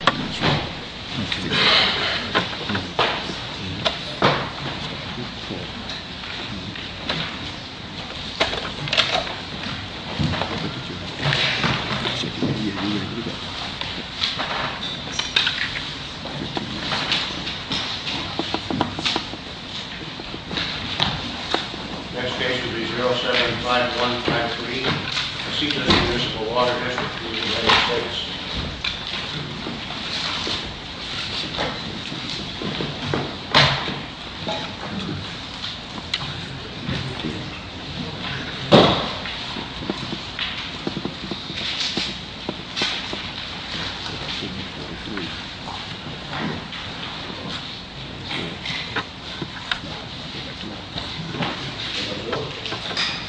Next case will be 075153, Casitas Municipal Water v. United States.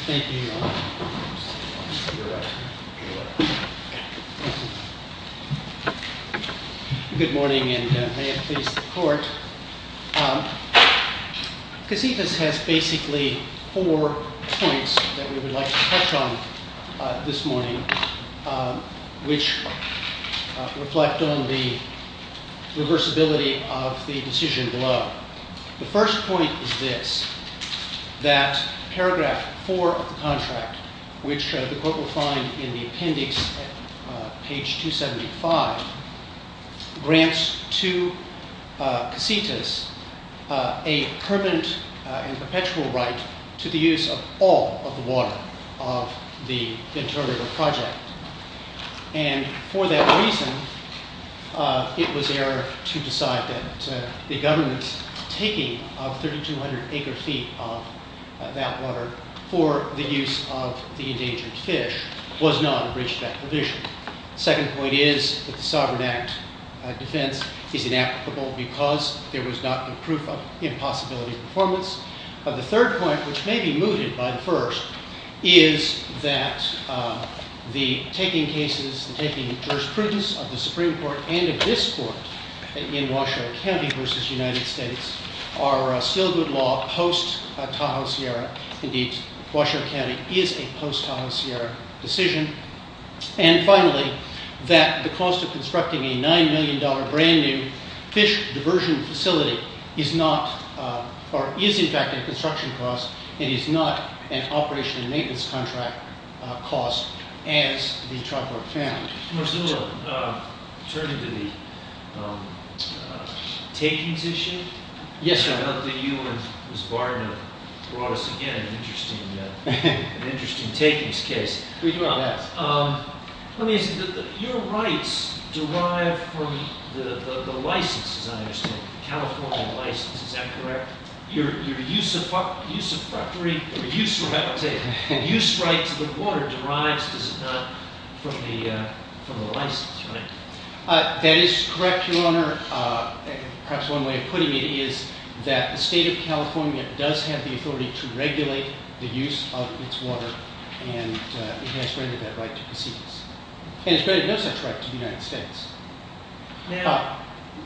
Thank you. Good morning, and may it please the court. Casitas has basically four points that we would like to touch on this morning, which reflect on the reversibility of the decision below. The first point is this, that paragraph 4 of the contract, which the court will find in the appendix at page 275, grants to Casitas a permanent and perpetual right to the use of all of the water of the Ventura River project. And for that reason, it was error to decide that the government's taking of 3,200 acre feet of that water for the use of the endangered fish was not a breach of that provision. The second point is that the Sovereign Act defense is inapplicable because there was not a proof of impossibility of performance. The third point, which may be mooted by the first, is that the taking cases, the taking jurisprudence of the Supreme Court and of this court in Washoe County v. United States are still good law post-Tahoe Sierra. Indeed, Washoe County is a post-Tahoe Sierra decision. And finally, that the cost of constructing a $9 million brand new fish diversion facility is in fact a construction cost and is not an operation and maintenance contract cost as the tribe court found. Mr. Miller, turning to the takings issue, I know that you and Ms. Barden have brought us again an interesting takings case. Let me ask you, your rights derive from the license, as I understand it, the California license, is that correct? Your use of property, your use right to the water derives, does it not, from the license, right? That is correct, Your Honor. Perhaps one way of putting it is that the state of California does have the authority to regulate the use of its water and it has granted that right to proceedings. And it's granted no such right to the United States. Now,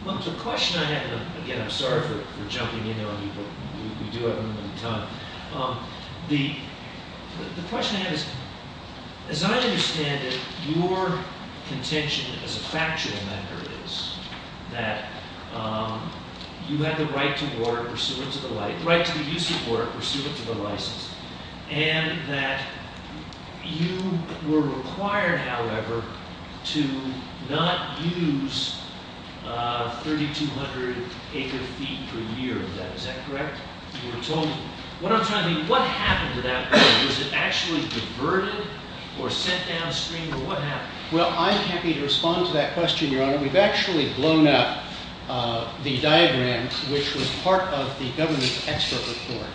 the question I have, again, I'm sorry for jumping in on you, but we do have a little time. The question I have is, as I understand it, your contention as a factual matter is that you have the right to water pursuant to the license, and that you were required, however, to not use 3,200 acre feet per year. Is that correct? You were told. What I'm trying to think, what happened to that right? Was it actually diverted or sent downstream or what happened? Well, I'm happy to respond to that question, Your Honor. We've actually blown up the diagram which was part of the government expert report.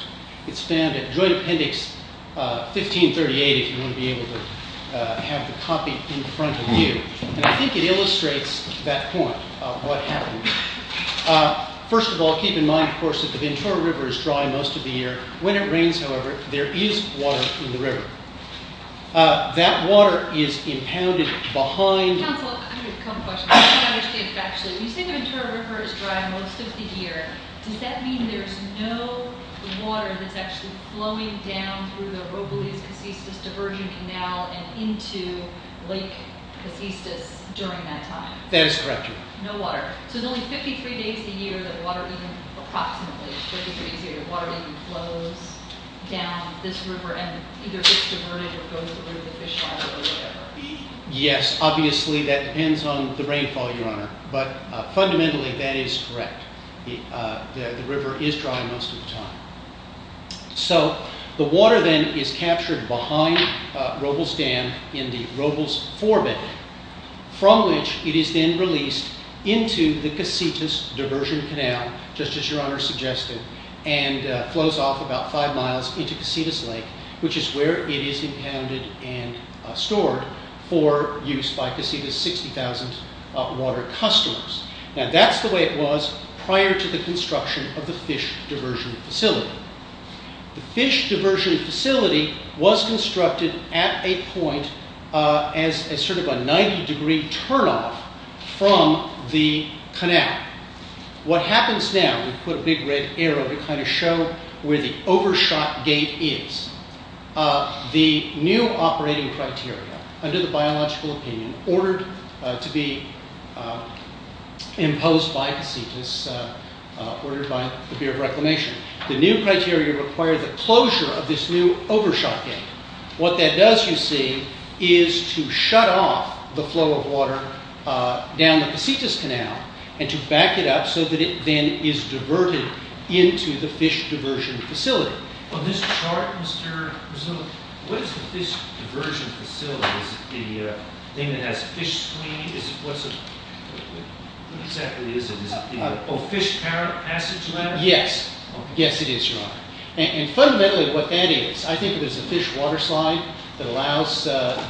It's found at Joint Appendix 1538 if you want to be able to have the copy in front of you. And I think it illustrates that point of what happened. First of all, keep in mind, of course, that the Ventura River is dry most of the year. When it rains, however, there is water in the river. That water is impounded behind… Counselor, I have a couple of questions. I don't understand factually. You say the Ventura River is dry most of the year. Does that mean there's no water that's actually flowing down through the Robles-Casistas Diversion Canal and into Lake Casistas during that time? That is correct, Your Honor. No water. So it's only 53 days a year that water even, approximately 53 days a year, that water even flows down this river and either gets diverted or goes over to the fish water or whatever? Yes, obviously that depends on the rainfall, Your Honor, but fundamentally that is correct. The river is dry most of the time. So the water then is captured behind Robles Dam in the Robles Forbidden, from which it is then released into the Casistas Diversion Canal, just as Your Honor suggested, and flows off about five miles into Casistas Lake, which is where it is impounded and stored for use by Casistas' 60,000 water customers. Now that's the way it was prior to the construction of the Fish Diversion Facility. The Fish Diversion Facility was constructed at a point as sort of a 90 degree turnoff from the canal. What happens now, we put a big red arrow to kind of show where the overshot gate is. The new operating criteria, under the biological opinion, ordered to be imposed by Casistas, ordered by the Bureau of Reclamation, the new criteria require the closure of this new overshot gate. What that does, you see, is to shut off the flow of water down the Casistas Canal and to back it up so that it then is diverted into the Fish Diversion Facility. On this chart, Mr. Rizzolo, what is the Fish Diversion Facility? Is it the thing that has a fish screen? What exactly is it? Is it the fish passage ladder? Fundamentally, what that is, I think it is a fish water slide that allows the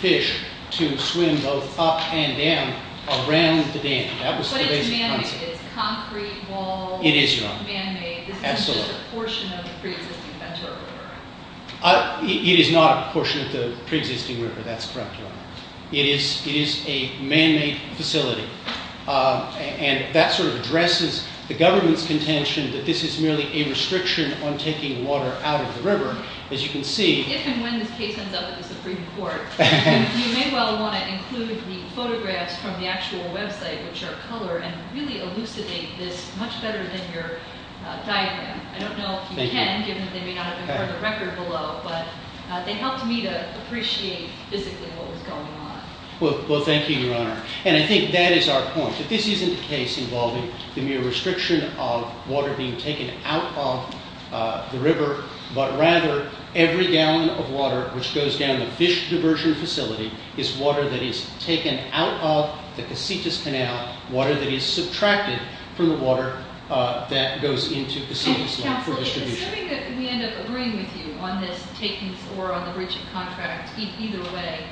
fish to swim both up and down around the dam. What is man-made? Is it concrete walls? It is, Your Honor. Man-made? This isn't just a portion of the pre-existing Ventura River? It is not a portion of the pre-existing river, that's correct, Your Honor. It is a man-made facility, and that sort of addresses the government's contention that this is merely a restriction on taking water out of the river. As you can see... If and when this case ends up in the Supreme Court, you may well want to include the photographs from the actual website, which are color, and really elucidate this much better than your diagram. I don't know if you can, given that they may not have been part of the record below, but they helped me to appreciate physically what was going on. Well, thank you, Your Honor. And I think that is our point, that this isn't a case involving the mere restriction of water being taken out of the river, but rather every gallon of water which goes down the Fish Diversion Facility is water that is taken out of the Casitas Canal, water that is subtracted from the water that goes into the Casitas Line for distribution. Counsel, assuming that we end up agreeing with you on this takings or on the breach of contract, either way,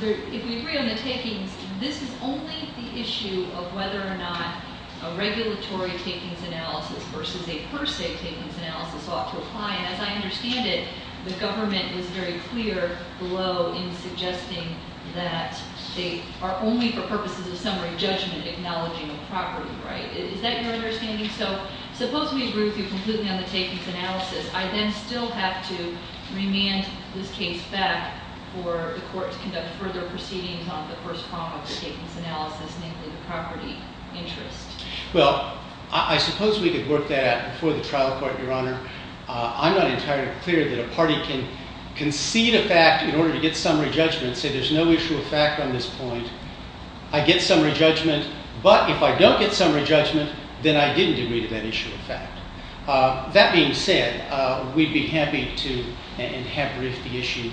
if we agree on the takings, this is only the issue of whether or not a regulatory takings analysis versus a per se takings analysis ought to apply. And as I understand it, the government is very clear below in suggesting that they are only for purposes of summary judgment, acknowledging a property right. Is that your understanding? So suppose we agree with you completely on the takings analysis. I then still have to remand this case back for the court to conduct further proceedings on the first prong of the takings analysis, namely the property interest. Well, I suppose we could work that out before the trial court, Your Honor. I'm not entirely clear that a party can concede a fact in order to get summary judgment, say there's no issue of fact on this point. I get summary judgment. But if I don't get summary judgment, then I didn't agree to that issue of fact. That being said, we'd be happy to and have riffed the issue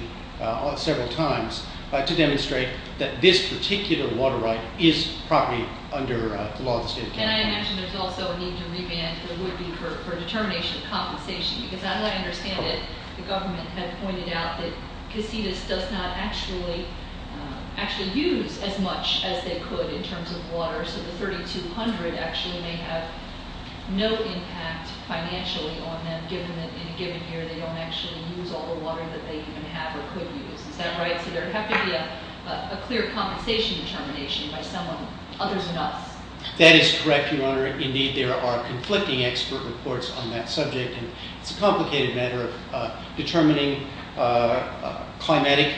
several times to demonstrate that this particular water right is property under the law of the state of California. And I imagine there's also a need to remand for determination of compensation. Because as I understand it, the government had pointed out that Casitas does not actually use as much as they could in terms of water. So the 3200 actually may have no impact financially on them, given that in a given year they don't actually use all the water that they even have or could use. Is that right? So there would have to be a clear compensation determination by someone other than us. That is correct, Your Honor. Indeed, there are conflicting expert reports on that subject. And it's a complicated matter of determining climatic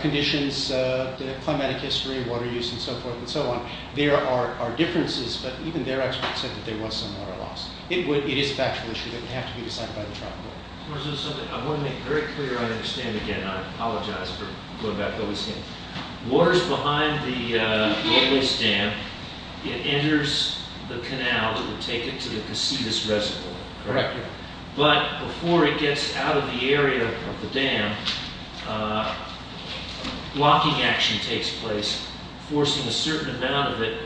conditions, the climatic history, water use, and so forth and so on. There are differences, but even their experts said that there was some water loss. It is a factual issue that would have to be decided by the trial court. I want to make very clear, I understand again, I apologize for going back to what we've seen. Water's behind the Lowe's Dam. It enters the canal that would take it to the Casitas Reservoir. Correct. But before it gets out of the area of the dam, blocking action takes place, forcing a certain amount of it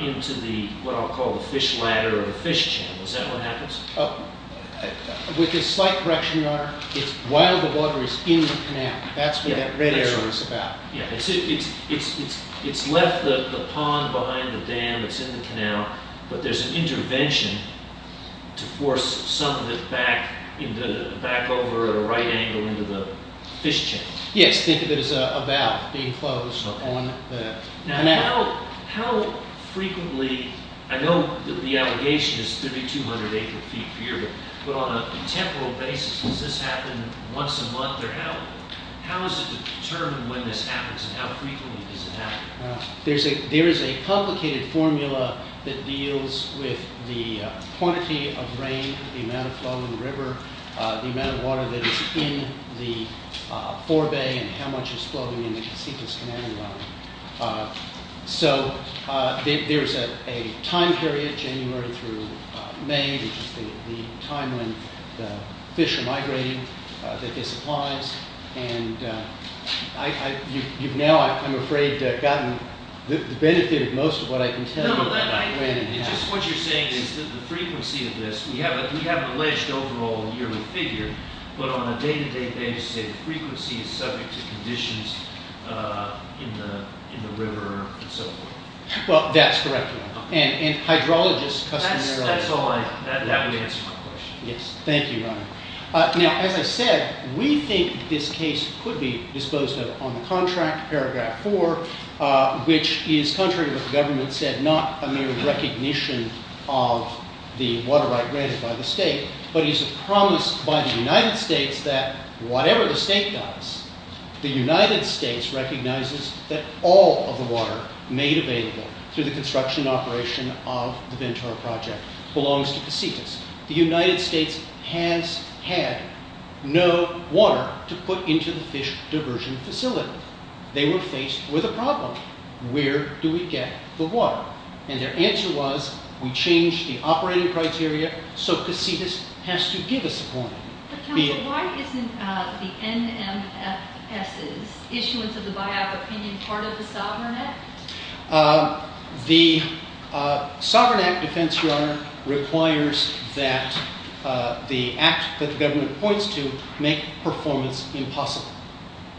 into the, what I'll call the fish ladder or the fish channel. Is that what happens? With a slight correction, Your Honor, it's while the water is in the canal. That's what that red area is about. It's left the pond behind the dam that's in the canal, but there's an intervention to force some of it back over at a right angle into the fish channel. Yes, think of it as a valve being closed on the canal. How frequently, I know the allegation is 3,200 acre feet per year, but on a temporal basis, does this happen once a month? How is it determined when this happens and how frequently does it happen? There is a complicated formula that deals with the quantity of rain, the amount of flow in the river, the amount of water that is in the forebay, and how much is flowing in the sequence canal level. So there's a time period, January through May, which is the time when the fish are migrating, that this applies. And you've now, I'm afraid, gotten the benefit of most of what I can tell you. Just what you're saying is that the frequency of this, we have an alleged overall yearly figure, but on a day-to-day basis, the frequency is subject to conditions in the river and so forth. Well, that's correct, and hydrologists customarily... That would answer my question. Yes, thank you, Ron. Now, as I said, we think this case could be disposed of on the contract, paragraph 4, which is, contrary to what the government said, not a mere recognition of the water right granted by the state, but is a promise by the United States that whatever the state does, the United States recognizes that all of the water made available through the construction and operation of the Ventura Project belongs to Pasitas. The United States has had no water to put into the fish diversion facility. They were faced with a problem. Where do we get the water? And their answer was, we change the operating criteria, so Pasitas has to give us the water. But counsel, why isn't the NMFS's issuance of the buyout opinion part of the Sovereign Act? The Sovereign Act defense, Your Honor, requires that the act that the government points to make performance impossible.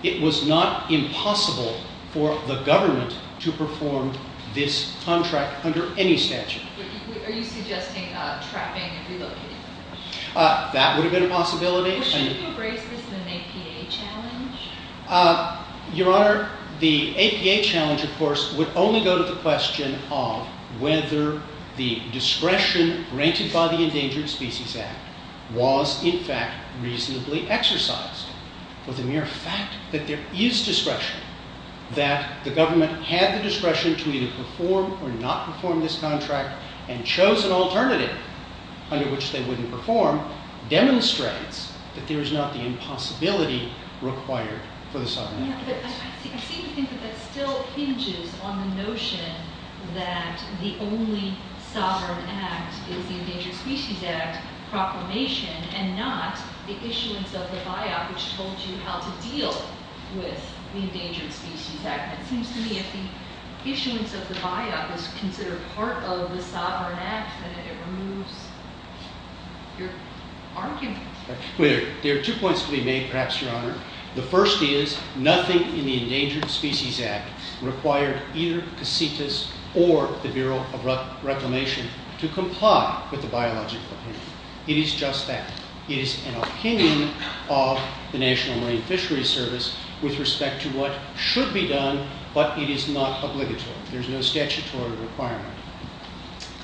It was not impossible for the government to perform this contract under any statute. Are you suggesting trapping and relocating? That would have been a possibility. Shouldn't you embrace this as an APA challenge? Your Honor, the APA challenge, of course, would only go to the question of whether the discretion granted by the Endangered Species Act was, in fact, reasonably exercised. For the mere fact that there is discretion, that the government had the discretion to either perform or not perform this contract, and chose an alternative under which they wouldn't perform, demonstrates that there is not the impossibility required for the Sovereign Act. But I seem to think that that still hinges on the notion that the only sovereign act is the Endangered Species Act proclamation, and not the issuance of the buyout, which told you how to deal with the Endangered Species Act. It seems to me if the issuance of the buyout was considered part of the Sovereign Act, then it removes your argument. There are two points to be made, perhaps, Your Honor. The first is, nothing in the Endangered Species Act required either Casitas or the Bureau of Reclamation to comply with the biological hand. It is just that. It is an opinion of the National Marine Fisheries Service with respect to what should be done, but it is not obligatory. There is no statutory requirement.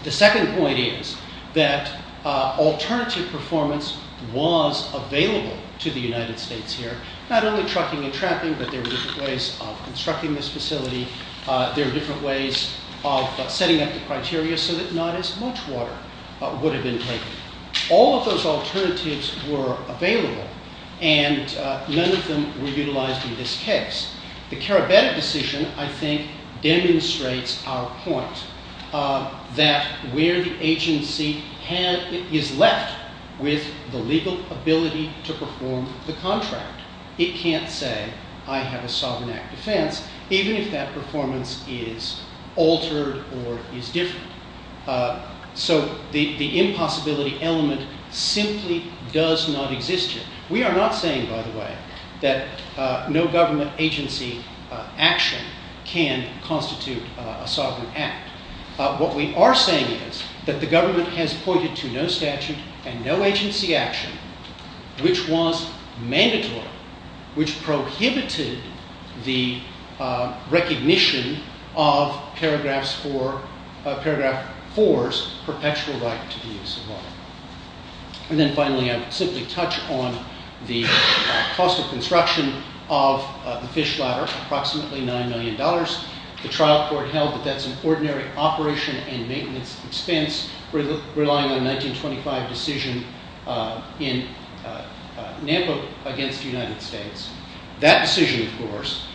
The second point is that alternative performance was available to the United States here. Not only trucking and trapping, but there were different ways of constructing this facility. There were different ways of setting up the criteria so that not as much water would have been taken. All of those alternatives were available, and none of them were utilized in this case. The Carabetta decision, I think, demonstrates our point that where the agency is left with the legal ability to perform the contract, it can't say, I have a Sovereign Act defense, even if that performance is altered or is different. So the impossibility element simply does not exist here. We are not saying, by the way, that no government agency action can constitute a Sovereign Act. What we are saying is that the government has pointed to no statute and no agency action which was mandatory, which prohibited the recognition of Paragraph 4's perpetual right to the use of water. And then finally, I'll simply touch on the cost of construction of the fish ladder, approximately $9 million. The trial court held that that's an ordinary operation and maintenance expense relying on a 1925 decision in Nampa against the United States. That decision, of course,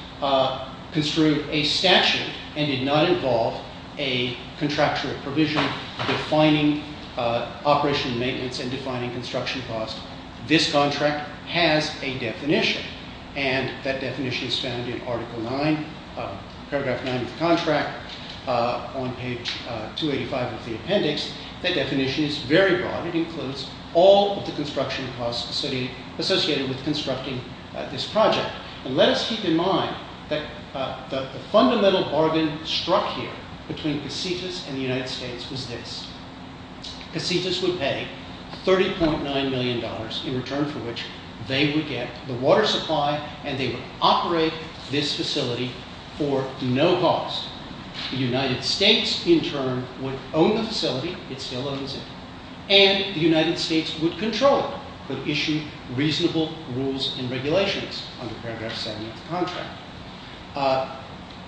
construed a statute and did not involve a contractual provision defining operation and maintenance and defining construction costs. This contract has a definition, and that definition is found in Article 9, Paragraph 9 of the contract. On page 285 of the appendix, that definition is very broad. It includes all of the construction costs associated with constructing this project. And let us keep in mind that the fundamental bargain struck here between Casitas and the United States was this. Casitas would pay $30.9 million in return for which they would get the water supply and they would operate this facility for no cost. The United States, in turn, would own the facility. It still owns it. And the United States would control it, would issue reasonable rules and regulations under Paragraph 7 of the contract.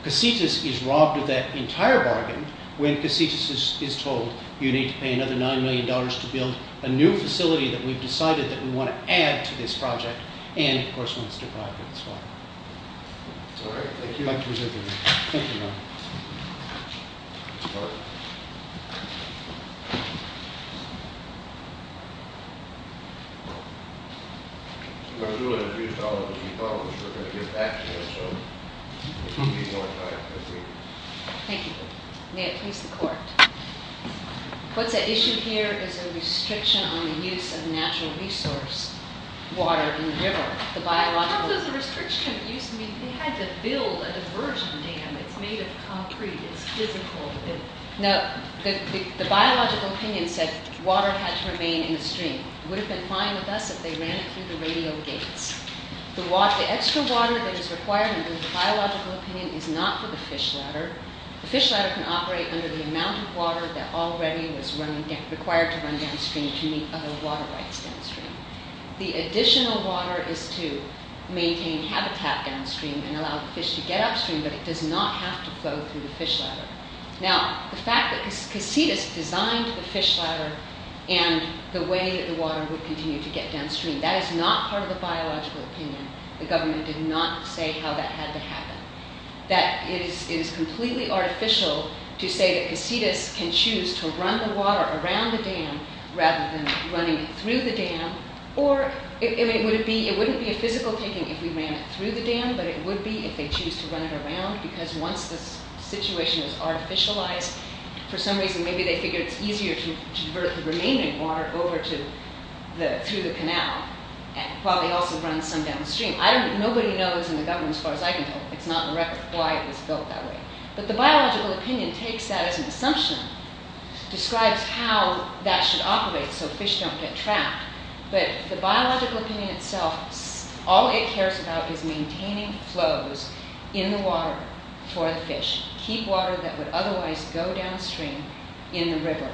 Casitas is robbed of that entire bargain when Casitas is told, you need to pay another $9 million to build a new facility that we've decided that we want to add to this project. And, of course, wants to provide for this water. All right, thank you. Thank you. Thank you. Thank you. May it please the court. What's at issue here is a restriction on the use of natural resource water in the river. How does a restriction of use mean they had to build a divergent dam? It's made of concrete. It's physical. No, the biological opinion said water had to remain in the stream. It would have been fine with us if they ran it through the radio gates. The extra water that is required under the biological opinion is not for the fish ladder. The fish ladder can operate under the amount of water that already was required to run downstream to meet other water rights downstream. The additional water is to maintain habitat downstream and allow the fish to get upstream, but it does not have to flow through the fish ladder. Now, the fact that Casitas designed the fish ladder and the way that the water would continue to get downstream, that is not part of the biological opinion. The government did not say how that had to happen. It is completely artificial to say that Casitas can choose to run the water around the dam rather than running it through the dam. It wouldn't be a physical thing if we ran it through the dam, but it would be if they choose to run it around, because once the situation is artificialized, for some reason maybe they figure it's easier to divert the remaining water over through the canal, while they also run some downstream. Nobody knows in the government, as far as I can tell, it's not in the record, why it was built that way. But the biological opinion takes that as an assumption, describes how that should operate so fish don't get trapped, but the biological opinion itself, all it cares about is maintaining flows in the water for the fish, keep water that would otherwise go downstream in the river,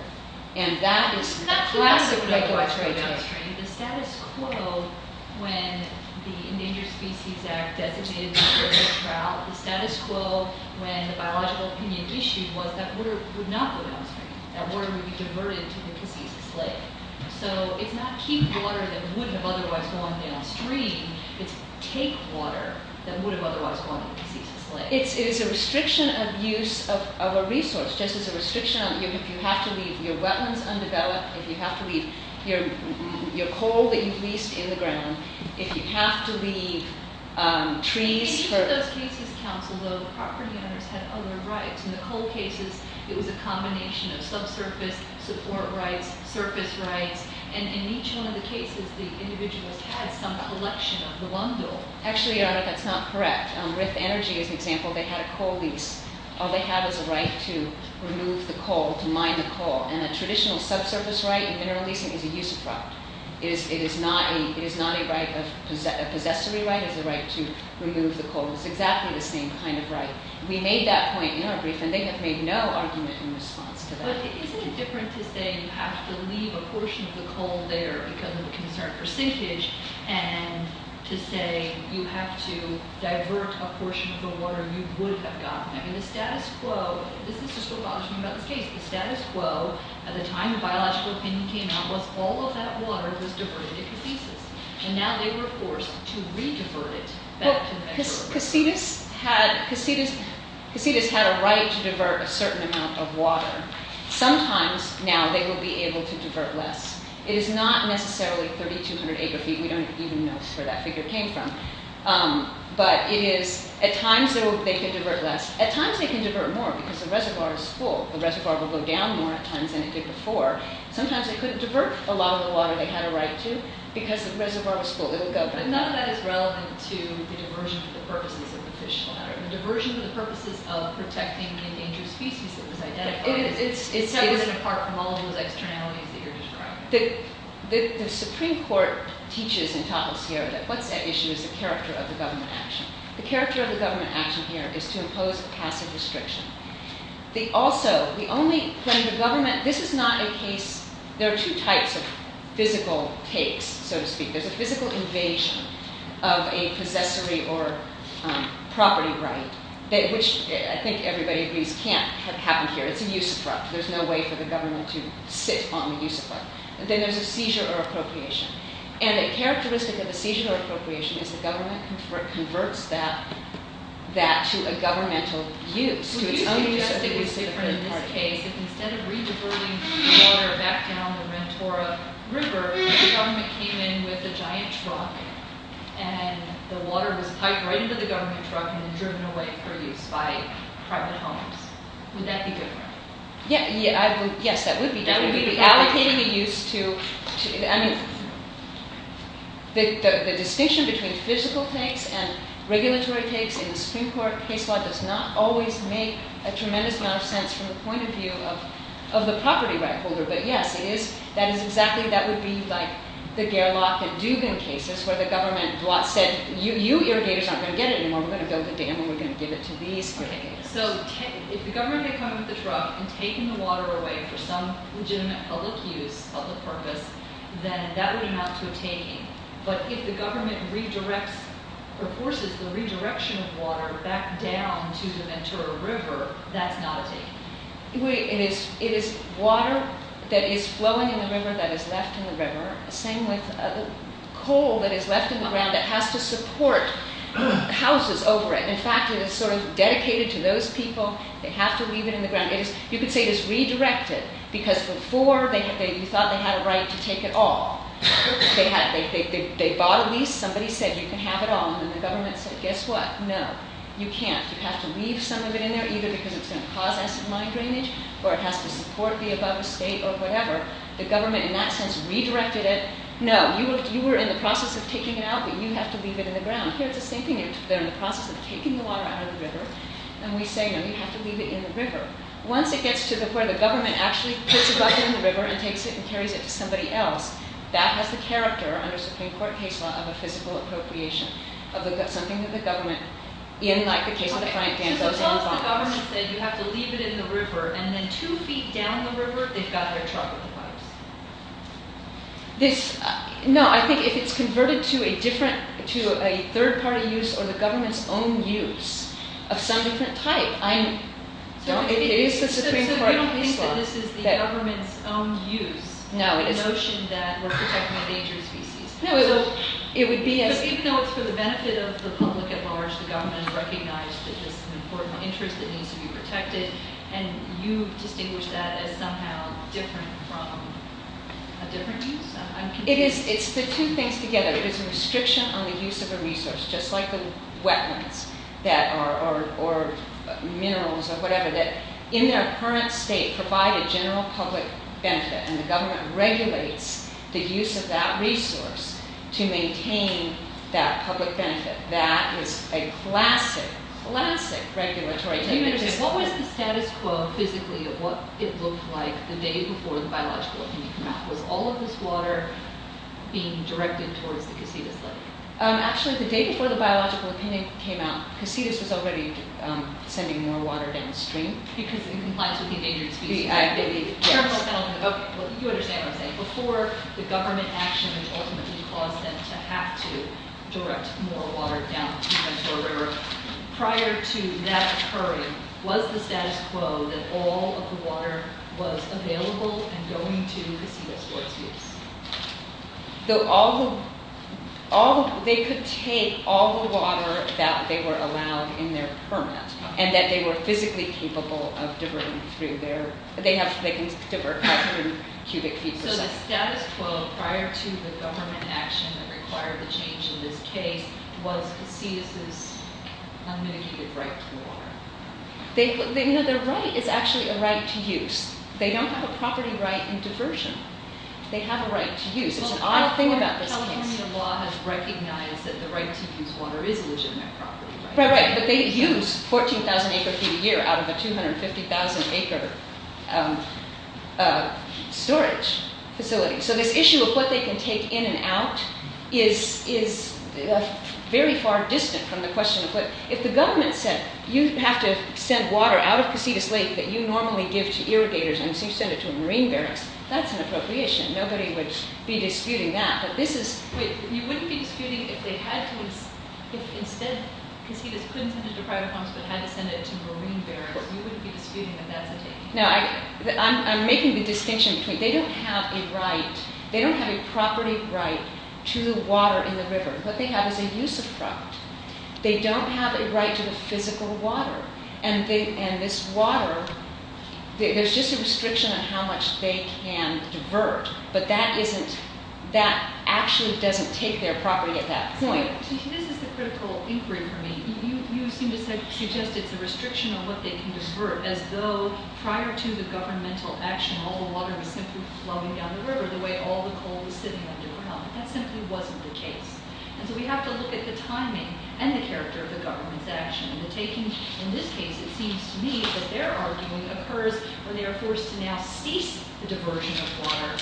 and that is a classic regulatory choice. The status quo when the Endangered Species Act designated the river trout, the status quo when the biological opinion issued was that water would not go downstream, that water would be diverted to the Casitas Lake. So it's not keep water that would have otherwise gone downstream, it's take water that would have otherwise gone to the Casitas Lake. It is a restriction of use of a resource, just as a restriction on if you have to leave your wetlands undeveloped, if you have to leave your coal that you've leased in the ground, if you have to leave trees for- In each of those cases, counsel, though, the property owners had other rights. In the coal cases, it was a combination of subsurface, support rights, surface rights, and in each one of the cases, the individuals had some collection of the lumber. Actually, Your Honor, that's not correct. Riff Energy is an example. They had a coal lease. All they had was a right to remove the coal, to mine the coal, and a traditional subsurface right in mineral leasing is a use of right. It is not a right of- A possessory right is a right to remove the coal. It's exactly the same kind of right. We made that point in our briefing. They have made no argument in response to that. But isn't it different to say you have to leave a portion of the coal there because of the concern for sinkage, and to say you have to divert a portion of the water you would have gotten? I mean, the status quo- This is just what bothers me about this case. The status quo at the time the biological opinion came out was all of that water was diverted to Casitas, and now they were forced to re-divert it back to- Casitas had a right to divert a certain amount of water. Sometimes now they will be able to divert less. It is not necessarily 3,200 acre-feet. We don't even know where that figure came from. But it is- At times they can divert less. At times they can divert more because the reservoir is full. The reservoir will go down more at times than it did before. Sometimes they couldn't divert a lot of the water they had a right to because the reservoir was full. It would go back down. But none of that is relevant to the diversion for the purposes of the fish ladder. The diversion for the purposes of protecting the endangered species that was identified- It is. It is separate and apart from all of those externalities that you're describing. The Supreme Court teaches in Tapos here that what's at issue is the character of the government action. The character of the government action here is to impose a passive restriction. Also, the only- When the government- This is not a case- There are two types of physical takes, so to speak. There's a physical invasion of a possessory or property right, which I think everybody agrees can't happen here. It's a use of right. There's no way for the government to sit on the use of right. Then there's a seizure or appropriation. And a characteristic of a seizure or appropriation is the government converts that to a governmental use, to its own use. Would you suggest it was different in this case, if instead of re-diverting water back down the Mentora River, the government came in with a giant truck, and the water was piped right into the government truck and then driven away for use by private homes? Would that be different? Yes, that would be different. That would be the allocated use to- The distinction between physical takes and regulatory takes in the Supreme Court case law does not always make a tremendous amount of sense from the point of view of the property right holder. But yes, that is exactly- That would be like the Gerlach and Dugan cases where the government said, You irrigators aren't going to get it anymore. We're going to build a dam and we're going to give it to these- So if the government had come in with a truck and taken the water away for some legitimate public use, public purpose, then that would amount to a taking. But if the government forces the redirection of water back down to the Mentora River, that's not a taking. It is water that is flowing in the river that is left in the river. Same with coal that is left in the ground that has to support houses over it. In fact, it is sort of dedicated to those people. They have to leave it in the ground. You could say it is redirected because before you thought they had a right to take it all. They bought a lease. Somebody said, you can have it all. And the government said, guess what? No, you can't. You have to leave some of it in there either because it's going to cause acid mine drainage or it has to support the above estate or whatever. The government in that sense redirected it. No, you were in the process of taking it out, but you have to leave it in the ground. Here it's the same thing. They're in the process of taking the water out of the river. And we say, no, you have to leave it in the river. Once it gets to where the government actually puts a bucket in the river and takes it and carries it to somebody else, that has the character, under Supreme Court case law, of a physical appropriation, of something that the government, in the case of the front dam, doesn't buy. So suppose the government said, you have to leave it in the river, and then two feet down the river they've got their truck with the pipes. No, I think if it's converted to a different, to a third-party use or the government's own use of some different type, it is the Supreme Court case law. So you don't think that this is the government's own use, the notion that we're protecting a dangerous species. Even though it's for the benefit of the public at large, the government has recognized that this is an important interest that needs to be protected, and you distinguish that as somehow different from a different use? It's the two things together. It is a restriction on the use of a resource, just like the wetlands or minerals or whatever, that in their current state provide a general public benefit. And the government regulates the use of that resource to maintain that public benefit. That is a classic, classic regulatory technique. What was the status quo physically of what it looked like the day before the biological opinion came out? Was all of this water being directed towards the Casitas lake? Actually, the day before the biological opinion came out, Casitas was already sending more water downstream. Because it complies with the endangered species. You understand what I'm saying. Before the government action, which ultimately caused them to have to direct more water down the Casitas River, prior to that occurring, was the status quo that all of the water was available and going to Casitas for its use? They could take all the water that they were allowed in their permit, and that they were physically capable of diverting through their... They can divert water through cubic feet per second. So the status quo prior to the government action that required the change in this case was Casitas' unmitigated right to water? Their right is actually a right to use. They don't have a property right in diversion. They have a right to use. It's an odd thing about this case. California law has recognized that the right to use water is a legitimate property right. Right, but they use 14,000 acre feet a year out of a 250,000 acre storage facility. So this issue of what they can take in and out is very far distant from the question of what... If the government said, you have to send water out of Casitas Lake that you normally give to irrigators, and so you send it to marine barracks, that's an appropriation. Nobody would be disputing that. But this is... Wait, you wouldn't be disputing if they had to... If instead Casitas couldn't send it to private farms but had to send it to marine barracks, you wouldn't be disputing that that's a taking. No, I'm making the distinction between... They don't have a right... They don't have a property right to water in the river. What they have is a use of product. They don't have a right to the physical water. And this water... There's just a restriction on how much they can divert. But that isn't... That actually doesn't take their property at that point. This is the critical inquiry for me. You seem to suggest it's a restriction on what they can divert, as though prior to the governmental action, all the water was simply flowing down the river the way all the coal was sitting underground. That simply wasn't the case. And so we have to look at the timing and the character of the government's action. In this case, it seems to me, that their arguing occurs where they are forced to now cease the diversion of water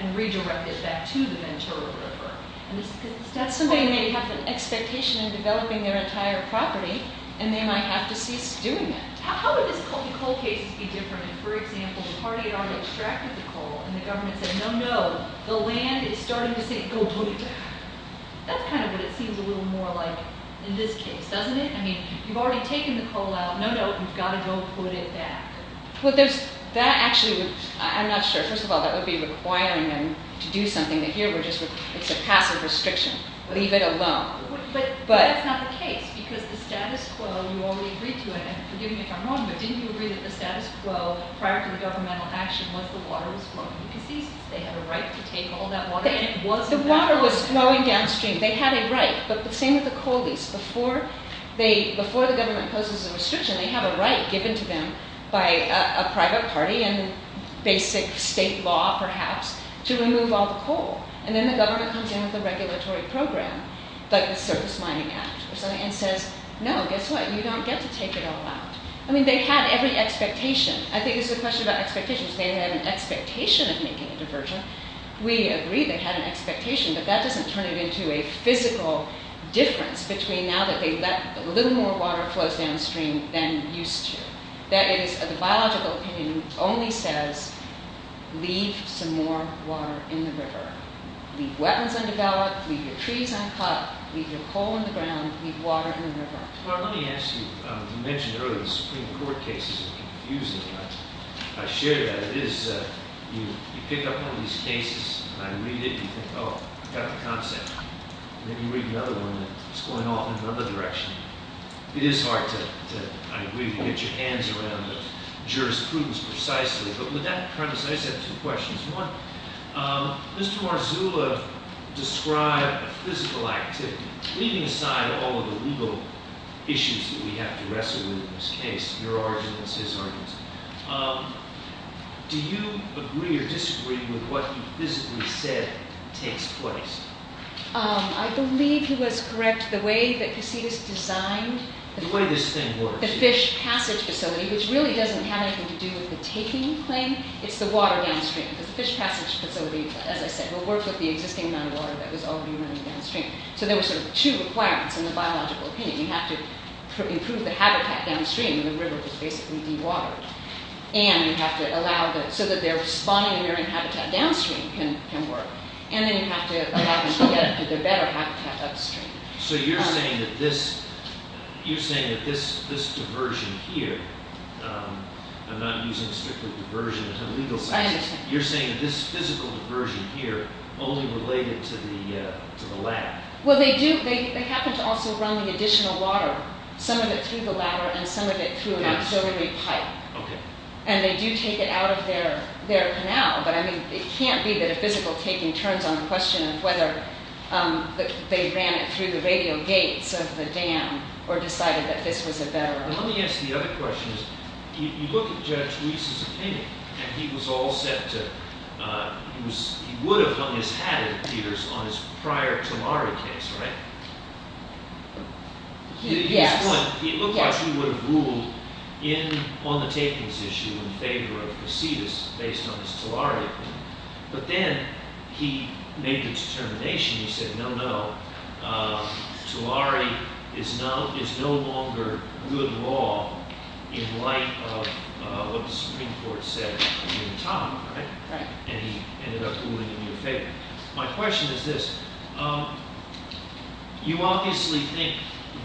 and redirect it back to the Ventura River. And that's something they have an expectation in developing their entire property, and they might have to cease doing it. How would the coal cases be different? For example, the party had already extracted the coal, and the government said, no, no, the land is starting to sink. Go put it back. That's kind of what it seems a little more like in this case, doesn't it? I mean, you've already taken the coal out. No, no, you've got to go put it back. Well, that actually would... I'm not sure. First of all, that would be requiring them to do something. Here, it's a passive restriction. Leave it alone. But that's not the case, because the status quo, you already agreed to it, and forgive me if I'm wrong, but didn't you agree that the status quo prior to the governmental action was the water was flowing? Because they had a right to take all that water. The water was flowing downstream. They had a right. But the same with the coal lease. Before the government poses a restriction, they have a right given to them by a private party and basic state law, perhaps, to remove all the coal. And then the government comes in with a regulatory program. Like the Surface Mining Act or something, and says, no, guess what? You don't get to take it all out. I mean, they had every expectation. I think this is a question about expectations. They had an expectation of making a diversion. We agree they had an expectation, but that doesn't turn it into a physical difference between now that a little more water flows downstream than used to. That is, the biological opinion only says, leave some more water in the river. Leave wetlands undeveloped. Leave your trees uncut. Leave your coal in the ground. Leave water in the river. Well, let me ask you. You mentioned earlier the Supreme Court cases are confusing. I share that. It is. You pick up one of these cases, and I read it, and you think, oh, I got the concept. And then you read another one, and it's going off in another direction. It is hard to, I agree, to get your hands around the jurisprudence precisely. But with that premise, I just have two questions. One, Mr. Marzullo described a physical activity, leaving aside all of the legal issues that we have to wrestle with in this case, your arguments, his arguments. Do you agree or disagree with what he physically said takes place? I believe he was correct. The way that Cassidis designed the fish passage facility, which really doesn't have anything to do with the taking thing, it's the water downstream. Because the fish passage facility, as I said, will work with the existing amount of water that was already running downstream. So there were sort of two requirements in the biological opinion. You have to improve the habitat downstream, and the river was basically dewatered. And you have to allow the, so that they're spawning marine habitat downstream can work. And then you have to allow them to get to their better habitat upstream. So you're saying that this, you're saying that this diversion here, I'm not using strictly diversion as a legal basis. I understand. You're saying that this physical diversion here only related to the ladder. Well, they do. They happen to also run the additional water, some of it through the ladder and some of it through an auxiliary pipe. OK. And they do take it out of their canal. But I mean, it can't be that a physical taking turns on the question of whether they ran it through the radio gates of the dam or decided that this was a better option. Let me ask the other question. You look at Judge Ruiz's opinion, and he was all set to, he would have hung his hat at theaters on his prior Tulare case, right? Yes. He was one. He looked like he would have ruled in on the takings issue in favor of Casitas based on his Tulare opinion. But then he made the determination. He said, no, no. Tulare is no longer good law in light of what the Supreme Court said in Tama, right? Right. And he ended up ruling in your favor. My question is this. You obviously think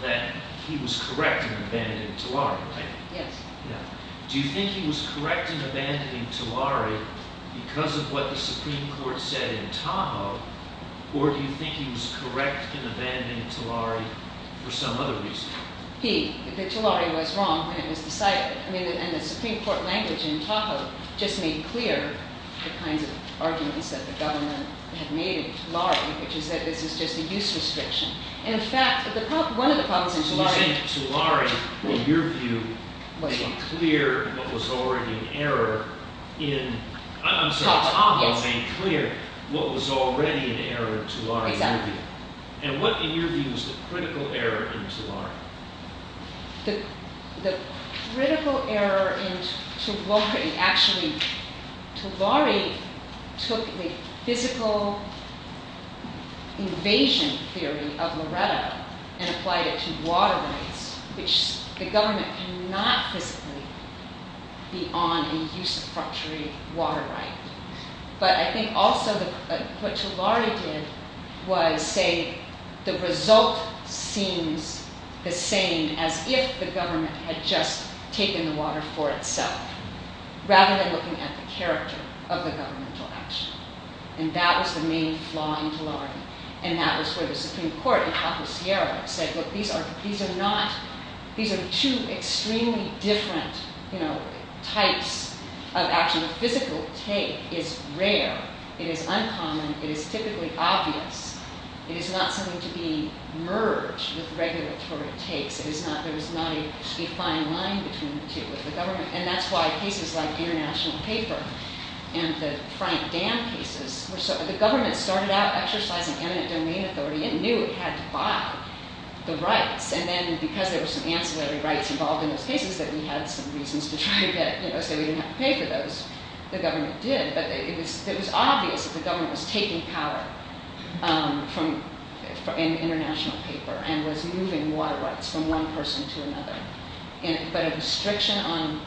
that he was correct in abandoning Tulare, right? Yes. Do you think he was correct in abandoning Tulare because of what the Supreme Court said in Tama, or do you think he was correct in abandoning Tulare for some other reason? He, that Tulare was wrong when it was decided. And the Supreme Court language in Tama just made clear the kinds of arguments that the government had made in Tulare, which is that this is just a use restriction. In fact, one of the problems in Tulare Do you think Tulare, in your view, made clear what was already an error in Tama, or did Tama make clear what was already an error in Tulare? Exactly. And what, in your view, is the critical error in Tulare? The critical error in Tulare, actually, Tulare took the physical invasion theory of Loretta and applied it to water rights, which the government cannot physically be on a usurpatory water right. But I think also what Tulare did was say the result seems the same as if the government had just taken the water for itself, rather than looking at the character of the governmental action. And that was the main flaw in Tulare. And that was where the Supreme Court in Tama, Sierra, said, look, these are two extremely different types of action. The physical take is rare. It is uncommon. It is typically obvious. It is not something to be merged with regulatory takes. There is not a fine line between the two. And that's why cases like the International Paper and the Frank Dam cases, the government started out exercising eminent domain authority and knew it had to buy the rights. And then because there were some ancillary rights involved in those cases that we had some reasons to try to get, say we didn't have to pay for those, the government did. But it was obvious that the government was taking power in the International Paper and was moving water rights from one person to another. But a restriction on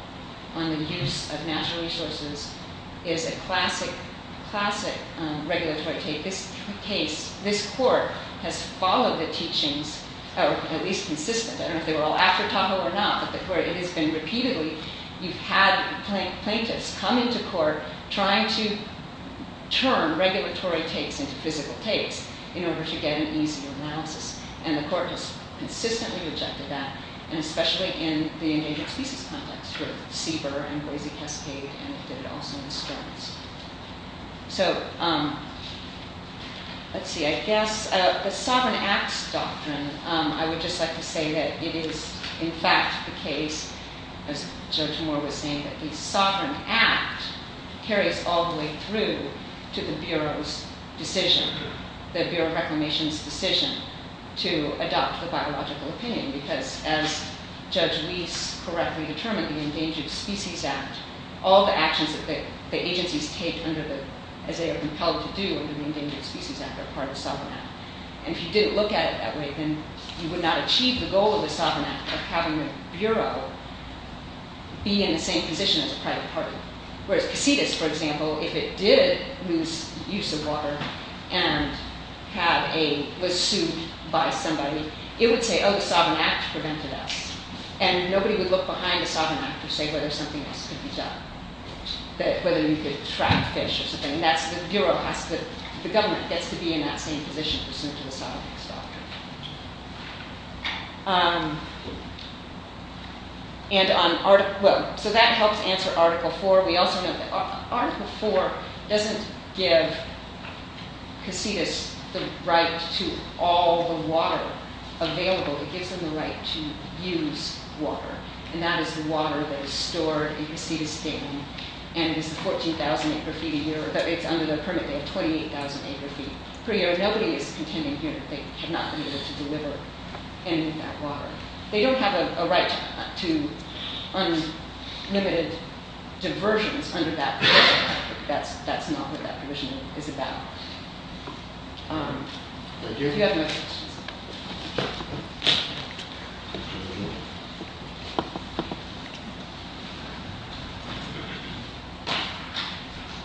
the use of natural resources is a classic regulatory take. This court has followed the teachings, at least consistently. I don't know if they were all after Tahoe or not, but where it has been repeatedly, you've had plaintiffs come into court trying to turn regulatory takes into physical takes in order to get an easier analysis. And the court has consistently rejected that, and especially in the endangered species context with CBER and Boise Cascade, and it did it also in the storms. So let's see, I guess the Sovereign Acts Doctrine, I would just like to say that it is in fact the case, as Judge Moore was saying, that the Sovereign Act carries all the way through to the Bureau's decision, the Bureau of Reclamation's decision to adopt the biological opinion. Because as Judge Reese correctly determined, the Endangered Species Act, all the actions that the agencies take as they are compelled to do under the Endangered Species Act are part of the Sovereign Act. And if you didn't look at it that way, then you would not achieve the goal of the Sovereign Act of having the Bureau be in the same position as a private party. Whereas Casitas, for example, if it did lose use of water and was sued by somebody, it would say, oh, the Sovereign Act prevented us. And nobody would look behind the Sovereign Act to say whether something else could be done, whether we could track fish or something. The government gets to be in that same position pursuant to the Sovereign Acts Doctrine. So that helps answer Article IV. We also know that Article IV doesn't give Casitas the right to all the water available. It gives them the right to use water. And that is the water that is stored in Casitas Dam. And it is 14,000 acre-feet a year. It's under their permit. They have 28,000 acre-feet per year. Nobody is contending here that they have not been able to deliver any of that water. They don't have a right to unlimited diversions under that provision. That's not what that provision is about. Thank you. Do you have any other questions?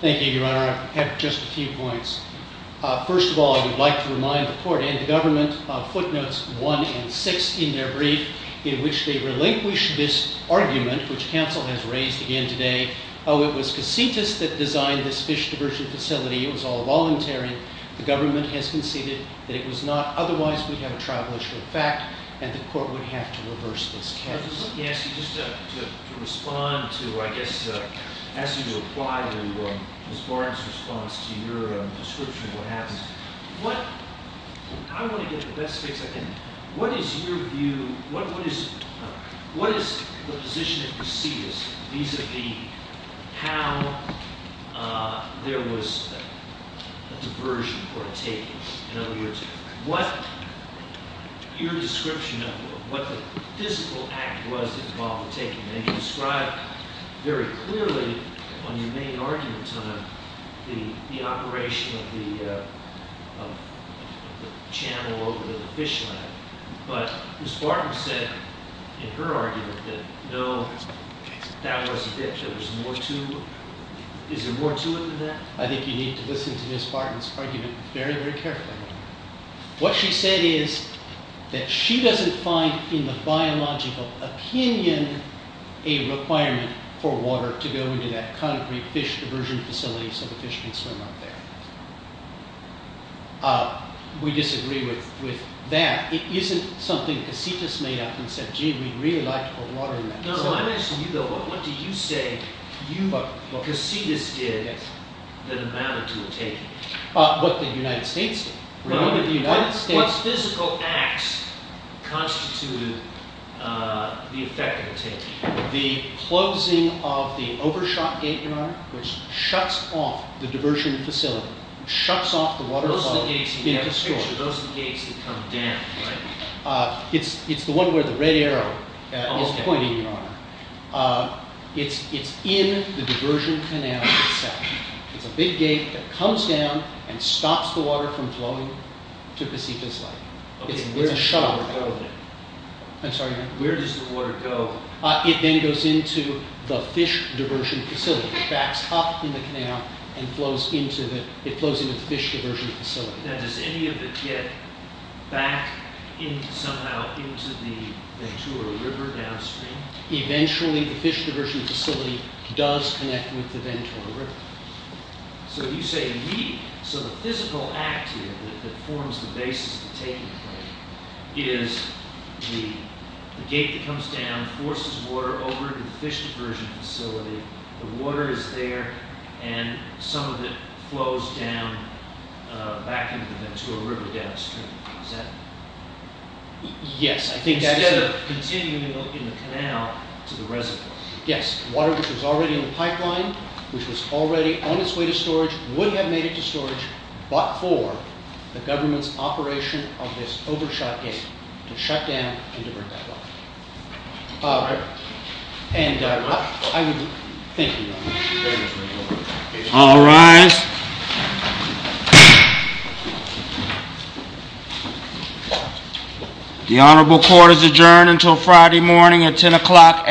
Thank you, Your Honor. I have just a few points. First of all, I would like to remind the court and the government of footnotes 1 and 6 in their brief in which they relinquish this argument, which counsel has raised again today. Oh, it was Casitas that designed this fish diversion facility. It was all voluntary. The government has conceded that it was not. Otherwise, we'd have a tribal issue of fact. And the court would have to reverse this case. Let me ask you just to respond to, I guess, ask you to apply to Ms. Barton's response to your description of what happened. I want to get the best fix I can. What is your view? What is the position at Casitas vis-a-vis how there was a diversion or a take? In other words, what your description of what the physical act was involved in taking. And you described very clearly on your main argument on the operation of the channel over the fish line. But Ms. Barton said in her argument that no, that was a ditch. There was more to it. Is there more to it than that? I think you need to listen to Ms. Barton's argument very, very carefully. What she said is that she doesn't find in the biological opinion a requirement for water to go into that concrete fish diversion facility so the fish can swim up there. We disagree with that. It isn't something Casitas made up and said, gee, we'd really like to put water in that. No, I'm asking you, though, what do you say Casitas did that amounted to a take? What the United States did. What physical acts constituted the effect of a take? The closing of the overshot gate, Your Honor, which shuts off the diversion facility, shuts off the water flow into the store. Those are the gates that come down, right? It's the one where the red arrow is pointing, Your Honor. It's in the diversion canal itself. It's a big gate that comes down and stops the water from flowing to Casitas Lake. It's a shut off. I'm sorry, Your Honor? Where does the water go? It then goes into the fish diversion facility. It backs up in the canal and flows into the fish diversion facility. Now, does any of it get back somehow into the Ventura River downstream? Eventually, the fish diversion facility does connect with the Ventura River. So you say, so the physical act here that forms the basis of the taking is the gate that comes down, forces water over into the fish diversion facility. The water is there, and some of it flows back into the Ventura River downstream. Is that? Yes. Instead of continuing in the canal to the reservoir. Yes, water which was already in the pipeline, which was already on its way to storage, would have made it to storage, but for the government's operation of this overshot gate to shut down and divert that water. And I would thank you, Your Honor. All rise. The honorable court is adjourned until Friday morning at 10 o'clock AM.